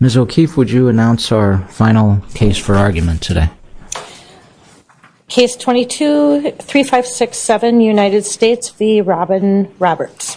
Ms. O'Keefe, would you announce our final case for argument today? Case 22-3567 United States v. Robin Roberts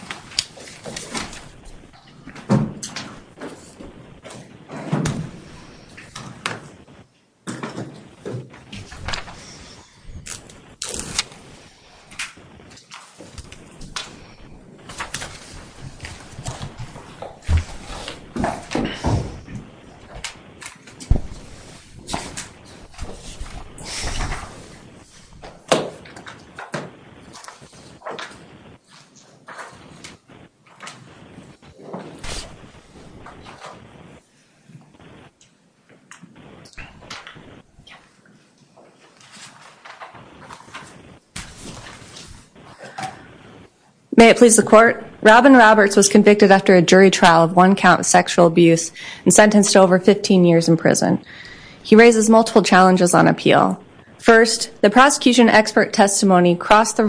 May it please the court, Robin Roberts was convicted after a jury trial of one count of sexual abuse and sentenced to over 15 years in prison. He raises multiple challenges on appeal. First, the prosecution expert testimony crossed the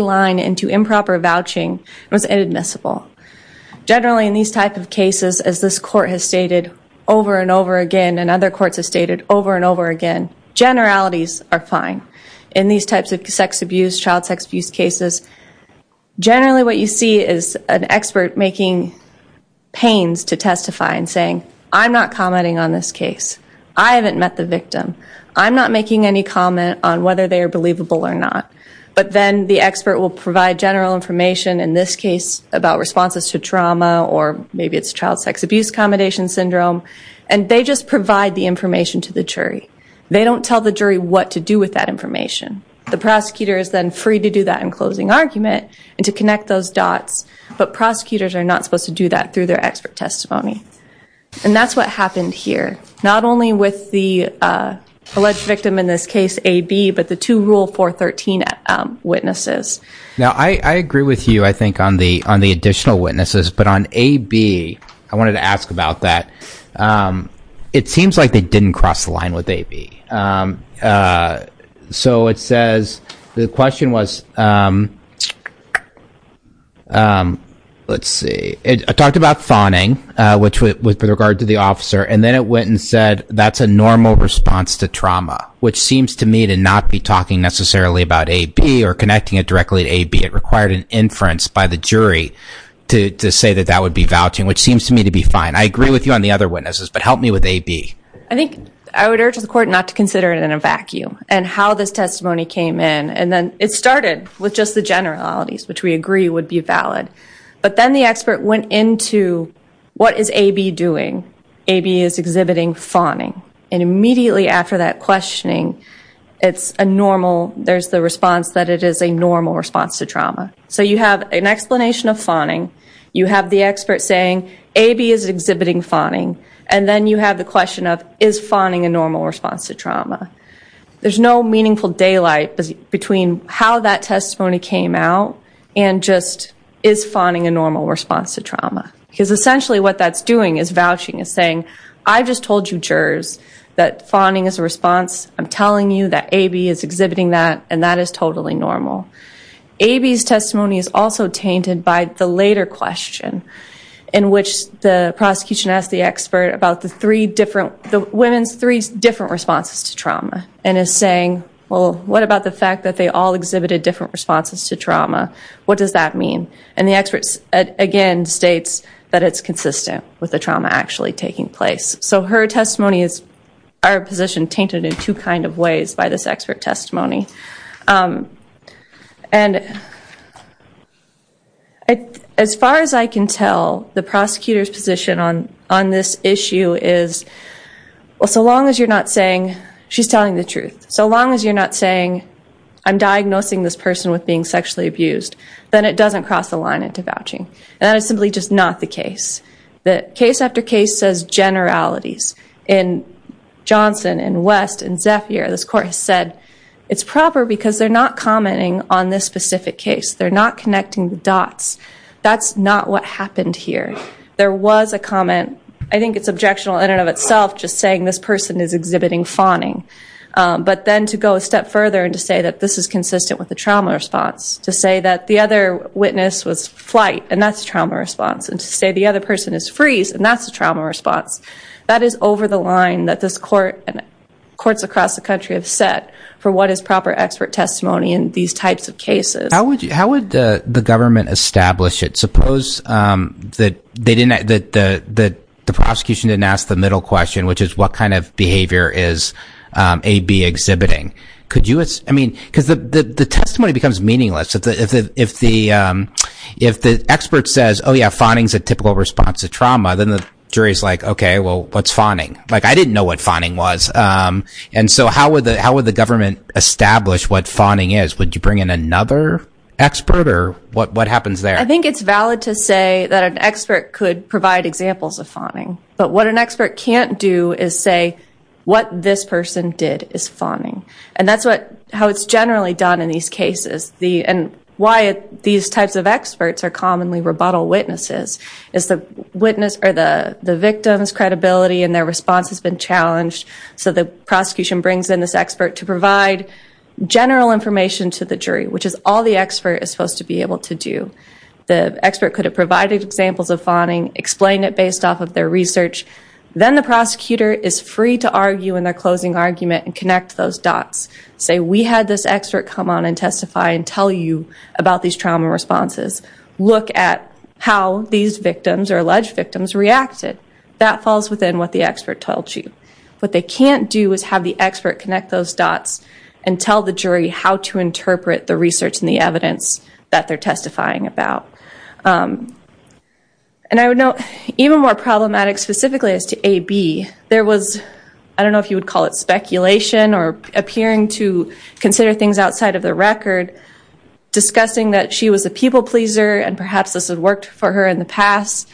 line into improper vouching and was inadmissible. Generally in these types of cases, as this court has stated over and over again and other courts have stated over and over again, generalities are fine. In these types of sex abuse, child sex abuse cases, generally what you see is an expert making pains to testify and saying, I'm not commenting on this case. I haven't met the victim. I'm not making any comment on whether they are believable or not. But then the expert will provide general information in this case about responses to trauma or maybe it's child sex abuse, accommodation syndrome, and they just provide the information to the jury. They don't tell the jury what to do with that information. The prosecutor is then free to do that in closing argument and to connect those dots. But prosecutors are not supposed to do that through their expert testimony. And that's what happened here. Not only with the alleged victim in this case, AB, but the two Rule 413 witnesses. Now I agree with you, I think, on the additional witnesses. But on AB, I wanted to ask about that. It seems like they didn't cross the line with AB. So it says, the question was, let's see, it talked about fawning, which was with regard to the officer. And then it went and said, that's a normal response to trauma, which seems to me to not be talking necessarily about AB or connecting it directly to AB. It required an inference by the jury to say that that would be vouching, which seems to me to be fine. I agree with you on the other witnesses, but help me with AB. I think I would urge the court not to consider it in a vacuum and how this testimony came in. And then it started with just the generalities, which we agree would be valid. But then the expert went into, what is AB doing? AB is exhibiting fawning. And immediately after that questioning, it's a normal, there's the response that it is a normal response to trauma. So you have an explanation of fawning. You have the expert saying, AB is exhibiting fawning. And then you have the question of, is fawning a normal response to trauma? There's no meaningful daylight between how that testimony came out and just, is fawning a normal response to trauma? Because essentially what that's doing is vouching, is saying, I just told you jurors that fawning is a response. I'm telling you that AB is exhibiting that, and that is totally normal. AB's testimony is also tainted by the later question in which the prosecution asked the expert about the three different, the women's three different responses to trauma, and is saying, well, what about the fact that they all exhibited different responses to trauma? What does that mean? And the expert, again, states that it's consistent with the trauma actually taking place. So her testimony is, our position, tainted in two kind of ways by this expert testimony. And as far as I can tell, the prosecutor's position on this issue is, well, so long as you're not saying, she's telling the truth. So long as you're not saying, I'm diagnosing this person with being sexually abused, then it doesn't cross the line into vouching, and that is simply just not the case. Case after case says generalities. In Johnson, in West, in Zephyr, this court has said it's proper because they're not commenting on this specific case. They're not connecting the dots. That's not what happened here. There was a comment, I think it's objectionable in and of itself, just saying this person is exhibiting fawning. But then to go a step further and to say that this is consistent with the trauma response, to say that the other witness was flight, and that's trauma response, and to say the other person is freeze, and that's the trauma response, that is over the line that this court and courts across the country have set for what is proper expert testimony in these types of cases. How would the government establish it? Suppose that the prosecution didn't ask the middle question, which is what kind of behavior is AB exhibiting? Could you, I mean, because the testimony becomes meaningless. If the expert says, oh, yeah, fawning is a typical response to trauma, then the jury is like, okay, well, what's fawning? I didn't know what fawning was. And so how would the government establish what fawning is? Would you bring in another expert, or what happens there? I think it's valid to say that an expert could provide examples of fawning. But what an expert can't do is say what this person did is fawning. And that's how it's generally done in these cases, and why these types of experts are commonly rebuttal witnesses, is the victim's credibility and their response has been challenged. So the prosecution brings in this expert to provide general information to the jury, which is all the expert is supposed to be able to do. The expert could have provided examples of fawning, explained it based off of their research. Then the prosecutor is free to argue in their closing argument and connect those dots. Say we had this expert come on and testify and tell you about these trauma responses. Look at how these victims or alleged victims reacted. That falls within what the expert told you. What they can't do is have the expert connect those dots and tell the jury how to interpret the research and the evidence that they're testifying about. And I would note, even more problematic specifically as to AB, there was, I don't know if you would call it speculation or appearing to consider things outside of the record, discussing that she was a people pleaser and perhaps this had worked for her in the past.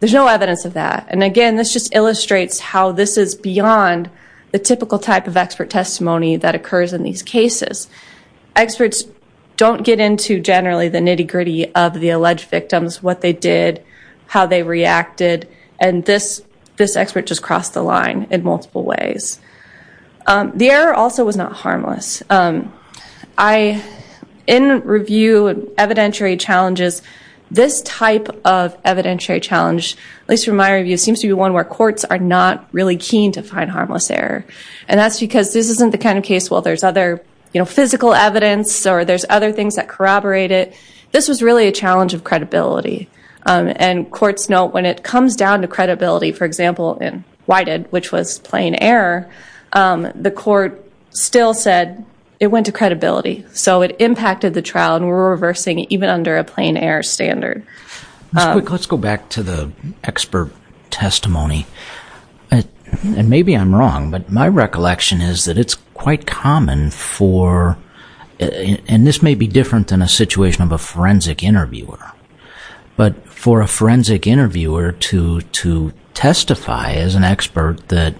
There's no evidence of that. And again, this just illustrates how this is beyond the typical type of expert testimony that occurs in these cases. Experts don't get into generally the nitty-gritty of the alleged victims, what they did, how they reacted, and this expert just crossed the line in multiple ways. The error also was not harmless. In review evidentiary challenges, this type of evidentiary challenge, at least from my review, seems to be one where courts are not really keen to find harmless error. And that's because this isn't the kind of case where there's other physical evidence or there's other things that corroborate it. This was really a challenge of credibility. And courts know when it comes down to credibility, for example, in Whitehead, which was plain error, the court still said it went to credibility. So it impacted the trial and we're reversing even under a plain error standard. Let's go back to the expert testimony. And maybe I'm wrong, but my recollection is that it's quite common for, and this may be different than a situation of a forensic interviewer, but for a forensic interviewer to testify as an expert that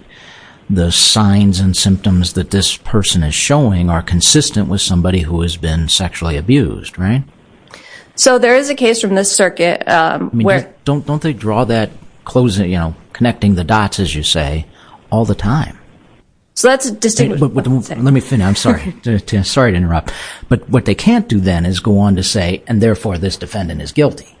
the signs and symptoms that this person is showing are consistent with somebody who has been sexually abused, right? So there is a case from this circuit where... Don't they draw that closing, you know, connecting the dots, as you say, all the time? So that's... Let me finish. I'm sorry. Sorry to interrupt. But what they can't do then is go on to say, and therefore this defendant is guilty.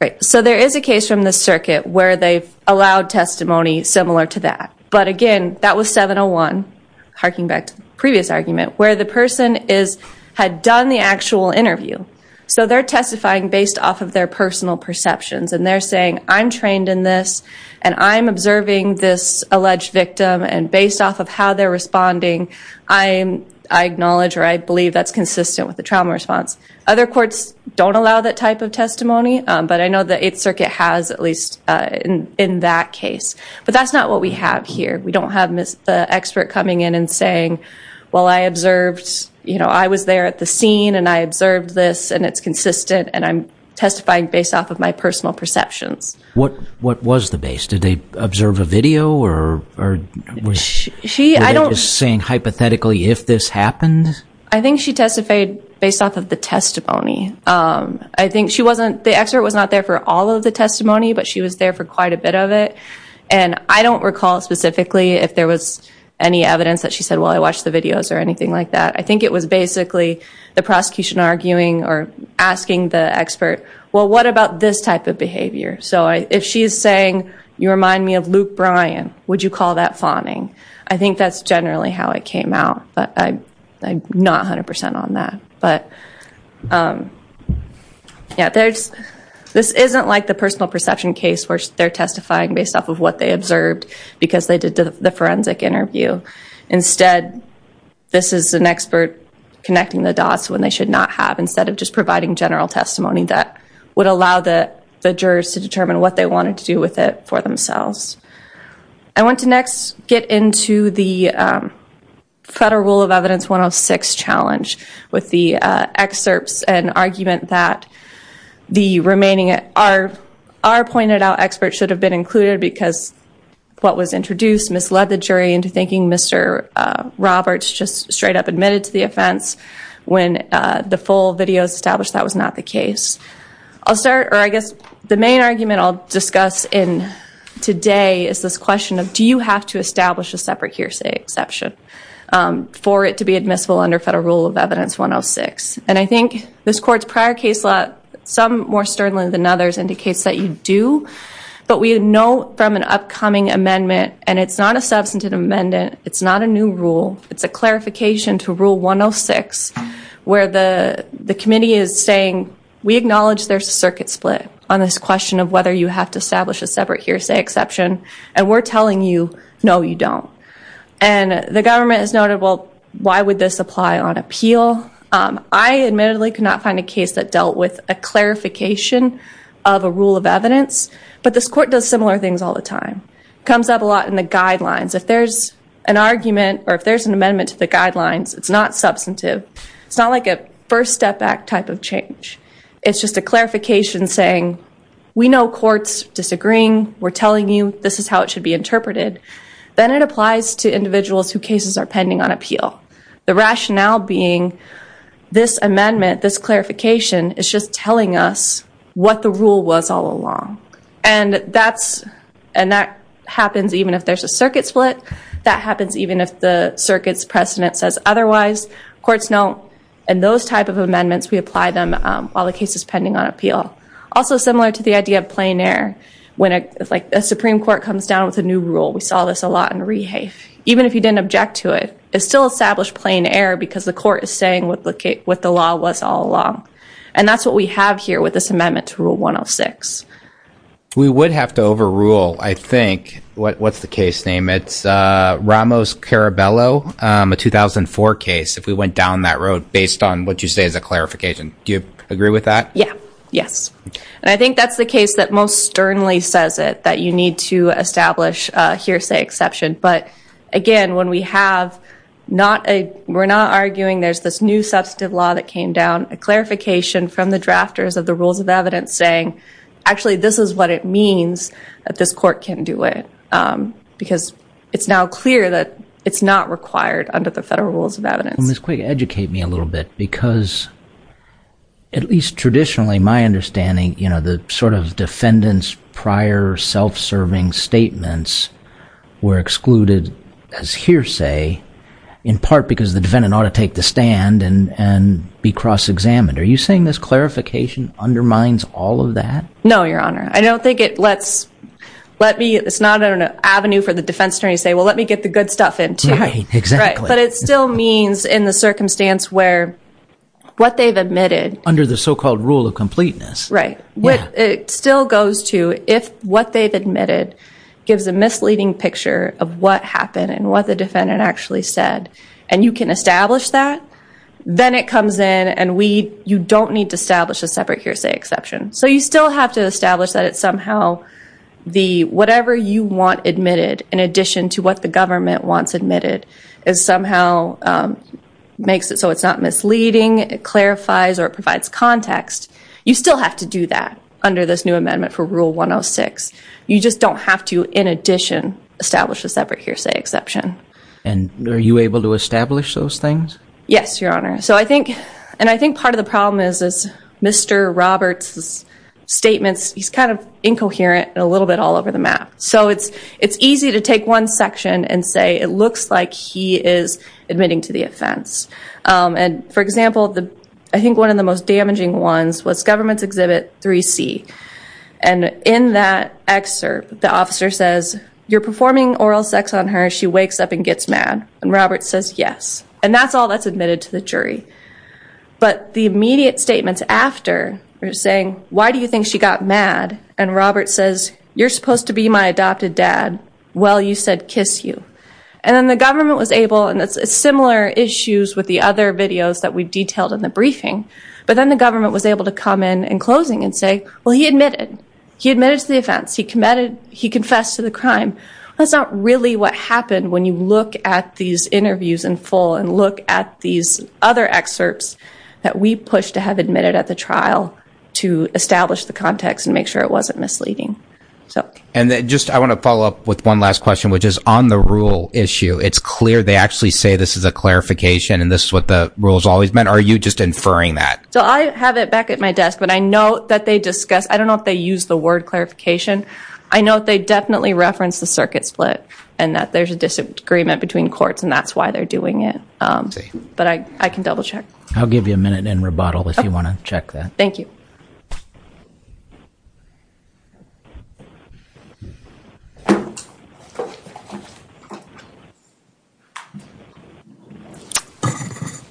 Right. So there is a case from this circuit where they've allowed testimony similar to that. But again, that was 701, harking back to the previous argument, where the person had done the actual interview. So they're testifying based off of their personal perceptions. And they're saying, I'm trained in this, and I'm observing this alleged victim, and based off of how they're responding, I acknowledge or I believe that's consistent with the trauma response. Other courts don't allow that type of testimony, but I know the Eighth Circuit has at least in that case. But that's not what we have here. We don't have the expert coming in and saying, well, I observed, you know, I was there at the scene, and I observed this, and it's consistent, and I'm testifying based off of my personal perceptions. What was the base? Did they observe a video, or were they just saying hypothetically if this happened? I think she testified based off of the testimony. I think she wasn't... The expert was not there for all of the testimony, but she was there for quite a bit of it. And I don't recall specifically if there was any evidence that she said, well, I watched the videos or anything like that. I think it was basically the prosecution arguing or asking the expert, well, what about this type of behavior? So if she is saying, you remind me of Luke Bryan, would you call that fawning? I think that's generally how it came out, but I'm not 100% on that. But yeah, this isn't like the personal perception case where they're testifying based off of what they observed because they did the forensic interview. Instead, this is an expert connecting the dots when they should not have instead of just providing general testimony that would allow the jurors to determine what they wanted to do with it for themselves. I want to next get into the Federal Rule of Evidence 106 challenge with the excerpts and argument that the remaining... Our pointed out expert should have been included because what was introduced misled the jury into thinking Mr. Roberts just straight up admitted to the offense when the full video is established that was not the case. I'll start... Or I guess the main argument I'll discuss in today is this question of do you have to establish a separate hearsay exception for it to be admissible under Federal Rule of Evidence 106? And I think this court's prior case law, some more sternly than others, indicates that you do, but we know from an upcoming amendment, and it's not a substantive amendment, it's not a new rule, it's a clarification to Rule 106 where the committee is saying we acknowledge there's a circuit split on this question of whether you have to establish a separate hearsay exception, and we're telling you, no, you don't. And the government has noted, well, why would this apply on appeal? I admittedly could not find a case that dealt with a clarification of a rule of evidence, but this court does similar things all the time. It comes up a lot in the guidelines. If there's an amendment to the guidelines, it's not substantive. It's not like a first step back type of change. It's just a clarification saying we know courts disagreeing, we're telling you this is how it should be interpreted. Then it applies to individuals who cases are pending on appeal. The rationale being this amendment, this clarification, is just telling us what the rule was all along. And that happens even if there's a circuit split. That happens even if the circuit's precedent says otherwise. Courts note in those type of amendments, we apply them while the case is pending on appeal. Also similar to the idea of plein air, when a Supreme Court comes down with a new rule. We saw this a lot in rehafe. Even if you didn't object to it, it still established plein air because the court is saying what the law was all along. And that's what we have here with this amendment to Rule 106. We would have to overrule, I think, what's the case name? It's Ramos-Caraballo, a 2004 case if we went down that road based on what you say is a clarification. Do you agree with that? Yeah. Yes. And I think that's the case that most sternly says it, that you need to establish a hearsay exception. But again, when we have not a, we're not arguing there's this new substantive law that came down, a clarification from the drafters of the rules of evidence saying, actually, this is what it means that this court can do it. Because it's now clear that it's not required under the federal rules of evidence. Ms. Quig, educate me a little bit because at least traditionally, my understanding, you know, the sort of defendant's prior self-serving statements were excluded as hearsay in part because the defendant ought to take the stand and be cross-examined. Are you saying this clarification undermines all of that? No, Your Honor. I don't think it lets, let me, it's not an avenue for the defense attorney to say, well, let me get the good stuff in too. Right. Exactly. Right. But it still means in the circumstance where what they've admitted. Under the so-called rule of completeness. Right. It still goes to if what they've admitted gives a misleading picture of what happened and what the defendant actually said and you can establish that, then it comes in and we, you don't need to establish a separate hearsay exception. So you still have to establish that it's somehow the, whatever you want admitted in addition to what the government wants admitted is somehow makes it so it's not misleading. It clarifies or it provides context. You still have to do that under this new amendment for rule 106. You just don't have to, in addition, establish a separate hearsay exception. And are you able to establish those things? Yes, Your Honor. So I think, and I think part of the problem is Mr. Roberts' statements, he's kind of incoherent and a little bit all over the map. So it's easy to take one section and say it looks like he is admitting to the offense. And, for example, I think one of the most damaging ones was Government's Exhibit 3C. And in that excerpt, the officer says, you're performing oral sex on her, she wakes up and gets mad. And Roberts says, yes. And that's all that's admitted to the jury. But the immediate statements after are saying, why do you think she got mad? And Roberts says, you're supposed to be my adopted dad. Well, you said kiss you. And then the government was able, and it's similar issues with the other videos that we've detailed in the briefing, but then the government was able to come in in closing and say, well, he admitted. He admitted to the offense. He confessed to the crime. That's not really what happened when you look at these interviews in full and look at these other excerpts that we pushed to have admitted at the trial to establish the context and make sure it wasn't misleading. And just I want to follow up with one last question, which is on the rule issue, it's clear they actually say this is a clarification and this is what the rules always meant. Are you just inferring that? So I have it back at my desk, but I know that they discuss, I don't know if they use the word clarification. I know they definitely reference the circuit split and that there's a disagreement between courts and that's why they're doing it. But I can double check. I'll give you a minute in rebuttal if you want to check that. Thank you.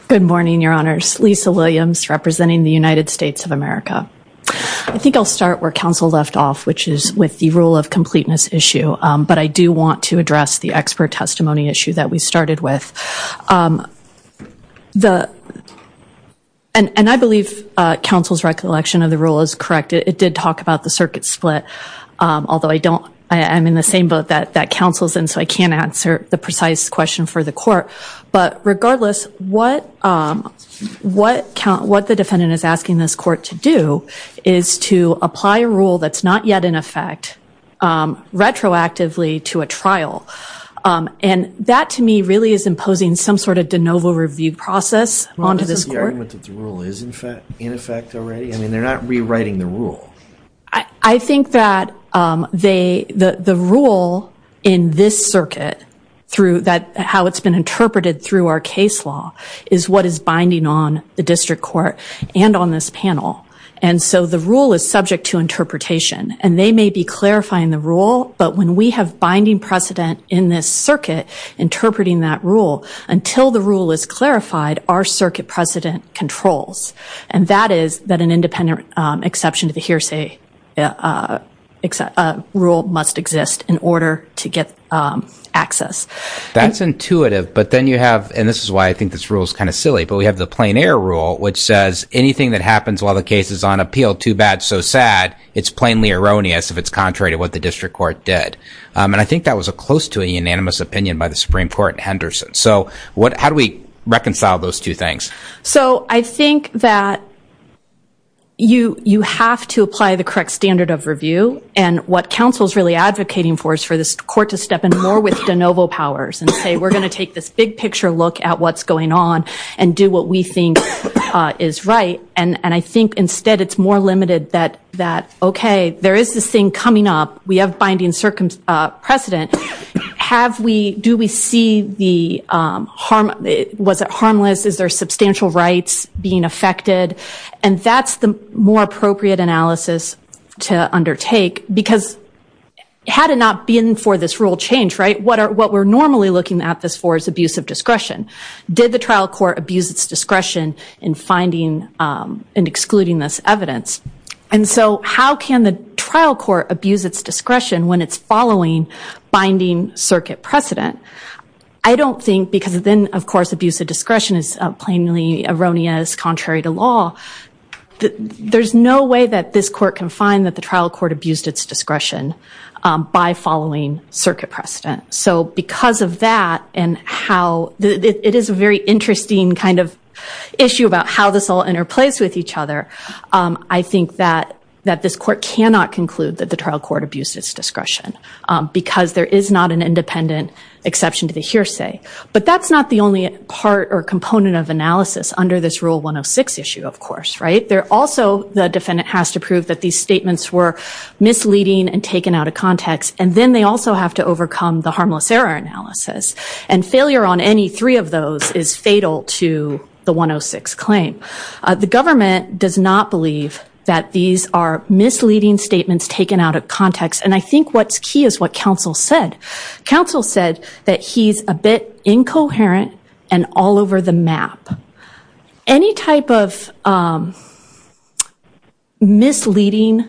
Good morning, Your Honors. Lisa Williams representing the United States of America. I think I'll start where counsel left off, which is with the rule of completeness issue. But I do want to address the expert testimony issue that we started with. And I believe counsel's recollection of the rule is correct. It did talk about the circuit split. Although I'm in the same boat that counsel's in, so I can't answer the precise question for the court. But regardless, what the defendant is asking this court to do is to apply a rule that's not yet in effect retroactively to a trial. And that, to me, really is imposing some sort of de novo review process onto this court. Well, isn't the argument that the rule is in effect already? I mean, they're not rewriting the rule. I think that the rule in this circuit, how it's been interpreted through our case law, is what is binding on the district court and on this panel. And so the rule is subject to interpretation. And they may be clarifying the rule, but when we have binding precedent in this circuit interpreting that rule, until the rule is clarified, our circuit precedent controls. And that is that an independent exception to the hearsay rule must exist in order to get access. That's intuitive. But then you have, and this is why I think this rule is kind of silly, but we have the plein air rule, which says anything that happens while the case is on appeal, too bad, so sad, it's plainly erroneous if it's contrary to what the district court did. And I think that was close to a unanimous opinion by the Supreme Court and Henderson. So how do we reconcile those two things? So I think that you have to apply the correct standard of review. And what counsel is really advocating for is for this court to step in more with de novo powers and say we're going to take this big picture look at what's going on and do what we think is right. And I think instead it's more limited that, okay, there is this thing coming up. We have binding precedent. Do we see the harm? Was it harmless? Is there substantial rights being affected? And that's the more appropriate analysis to undertake because had it not been for this rule change, right, what we're normally looking at this for is abuse of discretion. Did the trial court abuse its discretion in finding and excluding this evidence? And so how can the trial court abuse its discretion when it's following binding circuit precedent? I don't think because then, of course, abuse of discretion is plainly erroneous contrary to law. There's no way that this court can find that the trial court abused its discretion by following circuit precedent. So because of that and how it is a very interesting kind of issue about how this all interplays with each other, I think that this court cannot conclude that the trial court abused its discretion because there is not an independent exception to the hearsay. But that's not the only part or component of analysis under this Rule 106 issue, of course, right? Also, the defendant has to prove that these statements were misleading and taken out of context, and then they also have to overcome the harmless error analysis. And failure on any three of those is fatal to the 106 claim. The government does not believe that these are misleading statements taken out of context. And I think what's key is what counsel said. Counsel said that he's a bit incoherent and all over the map. Any type of misleading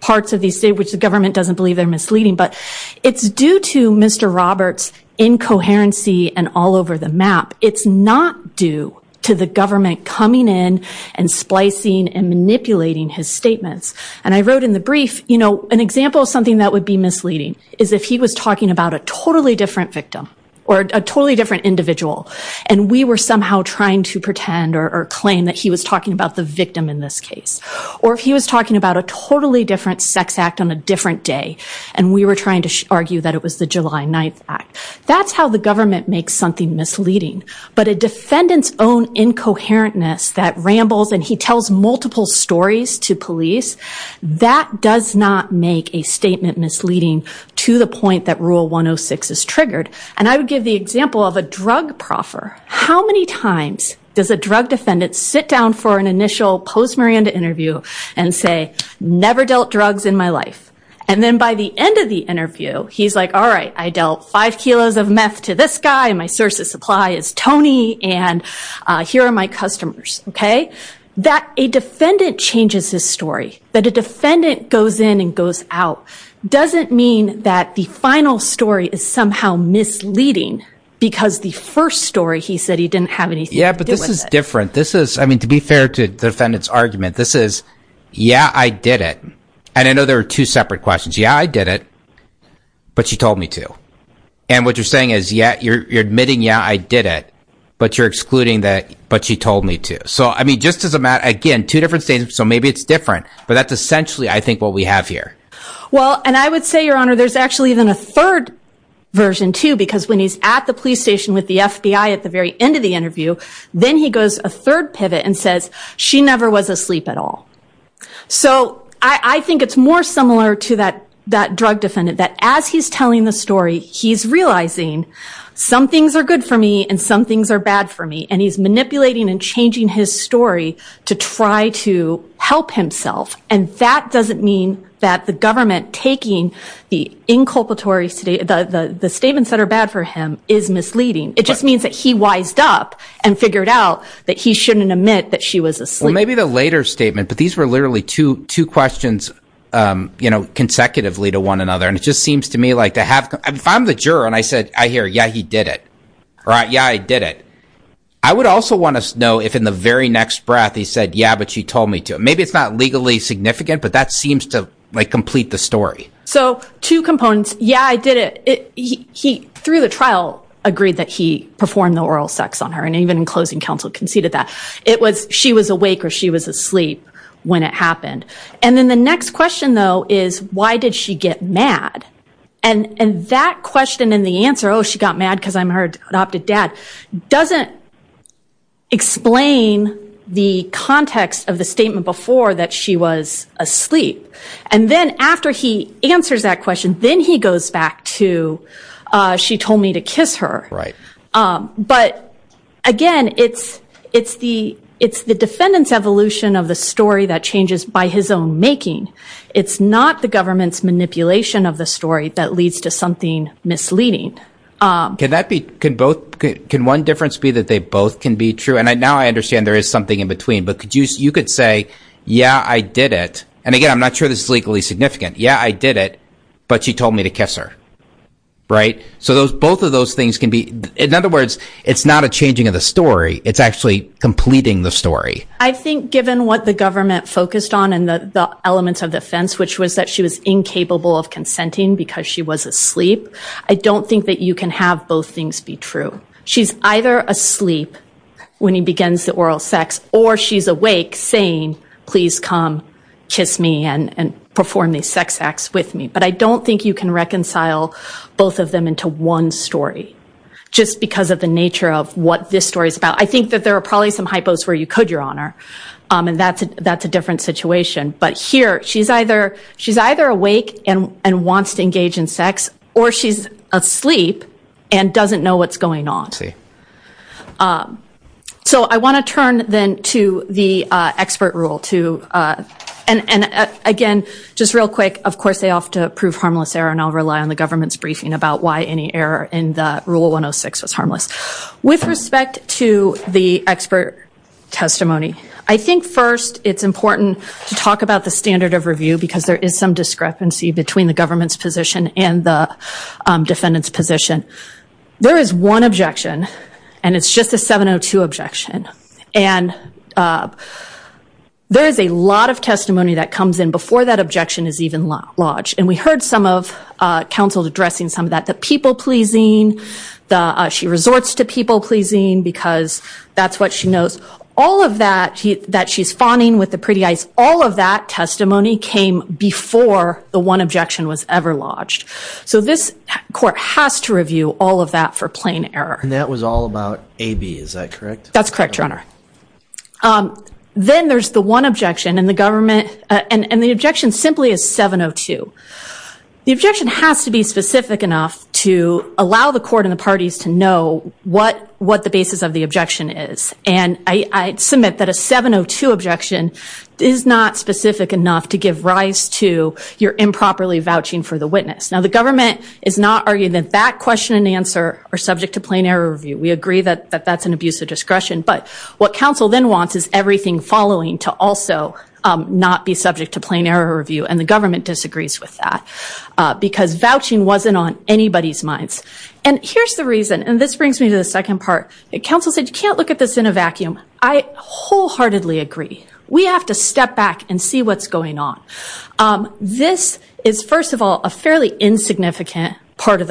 parts of these statements, the government doesn't believe they're misleading, but it's due to Mr. Roberts' incoherency and all over the map. It's not due to the government coming in and splicing and manipulating his statements. And I wrote in the brief, you know, an example of something that would be misleading is if he was talking about a totally different victim or a totally different individual and we were somehow trying to pretend or claim that he was talking about the victim in this case. Or if he was talking about a totally different sex act on a different day and we were trying to argue that it was the July 9th act. That's how the government makes something misleading. But a defendant's own incoherentness that rambles and he tells multiple stories to police, that does not make a statement misleading to the point that Rule 106 is triggered. And I would give the example of a drug proffer. How many times does a drug defendant sit down for an initial post-Miranda interview and say, never dealt drugs in my life. And then by the end of the interview, he's like, all right, I dealt five kilos of meth to this guy and my source of supply is Tony and here are my customers. That a defendant changes his story, that a defendant goes in and goes out, doesn't mean that the final story is somehow misleading because the first story he said he didn't have anything to do with it. Yeah, but this is different. This is, I mean, to be fair to the defendant's argument, this is, yeah, I did it. And I know there are two separate questions. Yeah, I did it. But she told me to. And what you're saying is, yeah, you're admitting, yeah, I did it. But you're excluding that. But she told me to. So, I mean, just as a matter, again, two different states. So maybe it's different. But that's essentially, I think, what we have here. Well, and I would say, Your Honor, there's actually even a third version, too, because when he's at the police station with the FBI at the very end of the interview, then he goes a third pivot and says she never was asleep at all. So I think it's more similar to that drug defendant, that as he's telling the story, he's realizing some things are good for me and some things are bad for me. And he's manipulating and changing his story to try to help himself. And that doesn't mean that the government taking the inculpatory statements that are bad for him is misleading. It just means that he wised up and figured out that he shouldn't admit that she was asleep. Well, maybe the later statement. But these were literally two questions consecutively to one another. And it just seems to me like if I'm the juror and I hear, yeah, he did it, or yeah, I did it, I would also want to know if in the very next breath he said, yeah, but she told me to. Maybe it's not legally significant, but that seems to complete the story. So two components, yeah, I did it. He, through the trial, agreed that he performed the oral sex on her, and even in closing counsel conceded that. It was she was awake or she was asleep when it happened. And then the next question, though, is why did she get mad? And that question and the answer, oh, she got mad because I'm her adopted dad, doesn't explain the context of the statement before that she was asleep. And then after he answers that question, then he goes back to she told me to kiss her. But, again, it's the defendant's evolution of the story that changes by his own making. It's not the government's manipulation of the story that leads to something misleading. Can one difference be that they both can be true? And now I understand there is something in between. But you could say, yeah, I did it. And, again, I'm not sure this is legally significant. Yeah, I did it, but she told me to kiss her. Right? So both of those things can be, in other words, it's not a changing of the story. It's actually completing the story. I think given what the government focused on and the elements of defense, which was that she was incapable of consenting because she was asleep, I don't think that you can have both things be true. She's either asleep when he begins the oral sex or she's awake saying, please come kiss me and perform these sex acts with me. But I don't think you can reconcile both of them into one story, just because of the nature of what this story is about. I think that there are probably some hypos where you could, Your Honor, and that's a different situation. But here she's either awake and wants to engage in sex, or she's asleep and doesn't know what's going on. So I want to turn, then, to the expert rule. And, again, just real quick, of course, they often prove harmless error, and I'll rely on the government's briefing about why any error in the Rule 106 was harmless. With respect to the expert testimony, I think, first, it's important to talk about the standard of review, because there is some discrepancy between the government's position and the defendant's position. There is one objection, and it's just a 702 objection. And there is a lot of testimony that comes in before that objection is even lodged. And we heard some of counsel addressing some of that, the people-pleasing, she resorts to people-pleasing because that's what she knows. All of that, that she's fawning with the pretty eyes, all of that testimony came before the one objection was ever lodged. So this court has to review all of that for plain error. And that was all about AB, is that correct? That's correct, Your Honor. Then there's the one objection, and the objection simply is 702. The objection has to be specific enough to allow the court and the parties to know what the basis of the objection is. And I submit that a 702 objection is not specific enough to give rise to your improperly vouching for the witness. Now, the government is not arguing that that question and answer are subject to plain error review. We agree that that's an abuse of discretion. But what counsel then wants is everything following to also not be subject to plain error review, and the government disagrees with that because vouching wasn't on anybody's minds. And here's the reason, and this brings me to the second part. Counsel said you can't look at this in a vacuum. I wholeheartedly agree. We have to step back and see what's going on. This is, first of all, a fairly insignificant part of the trial.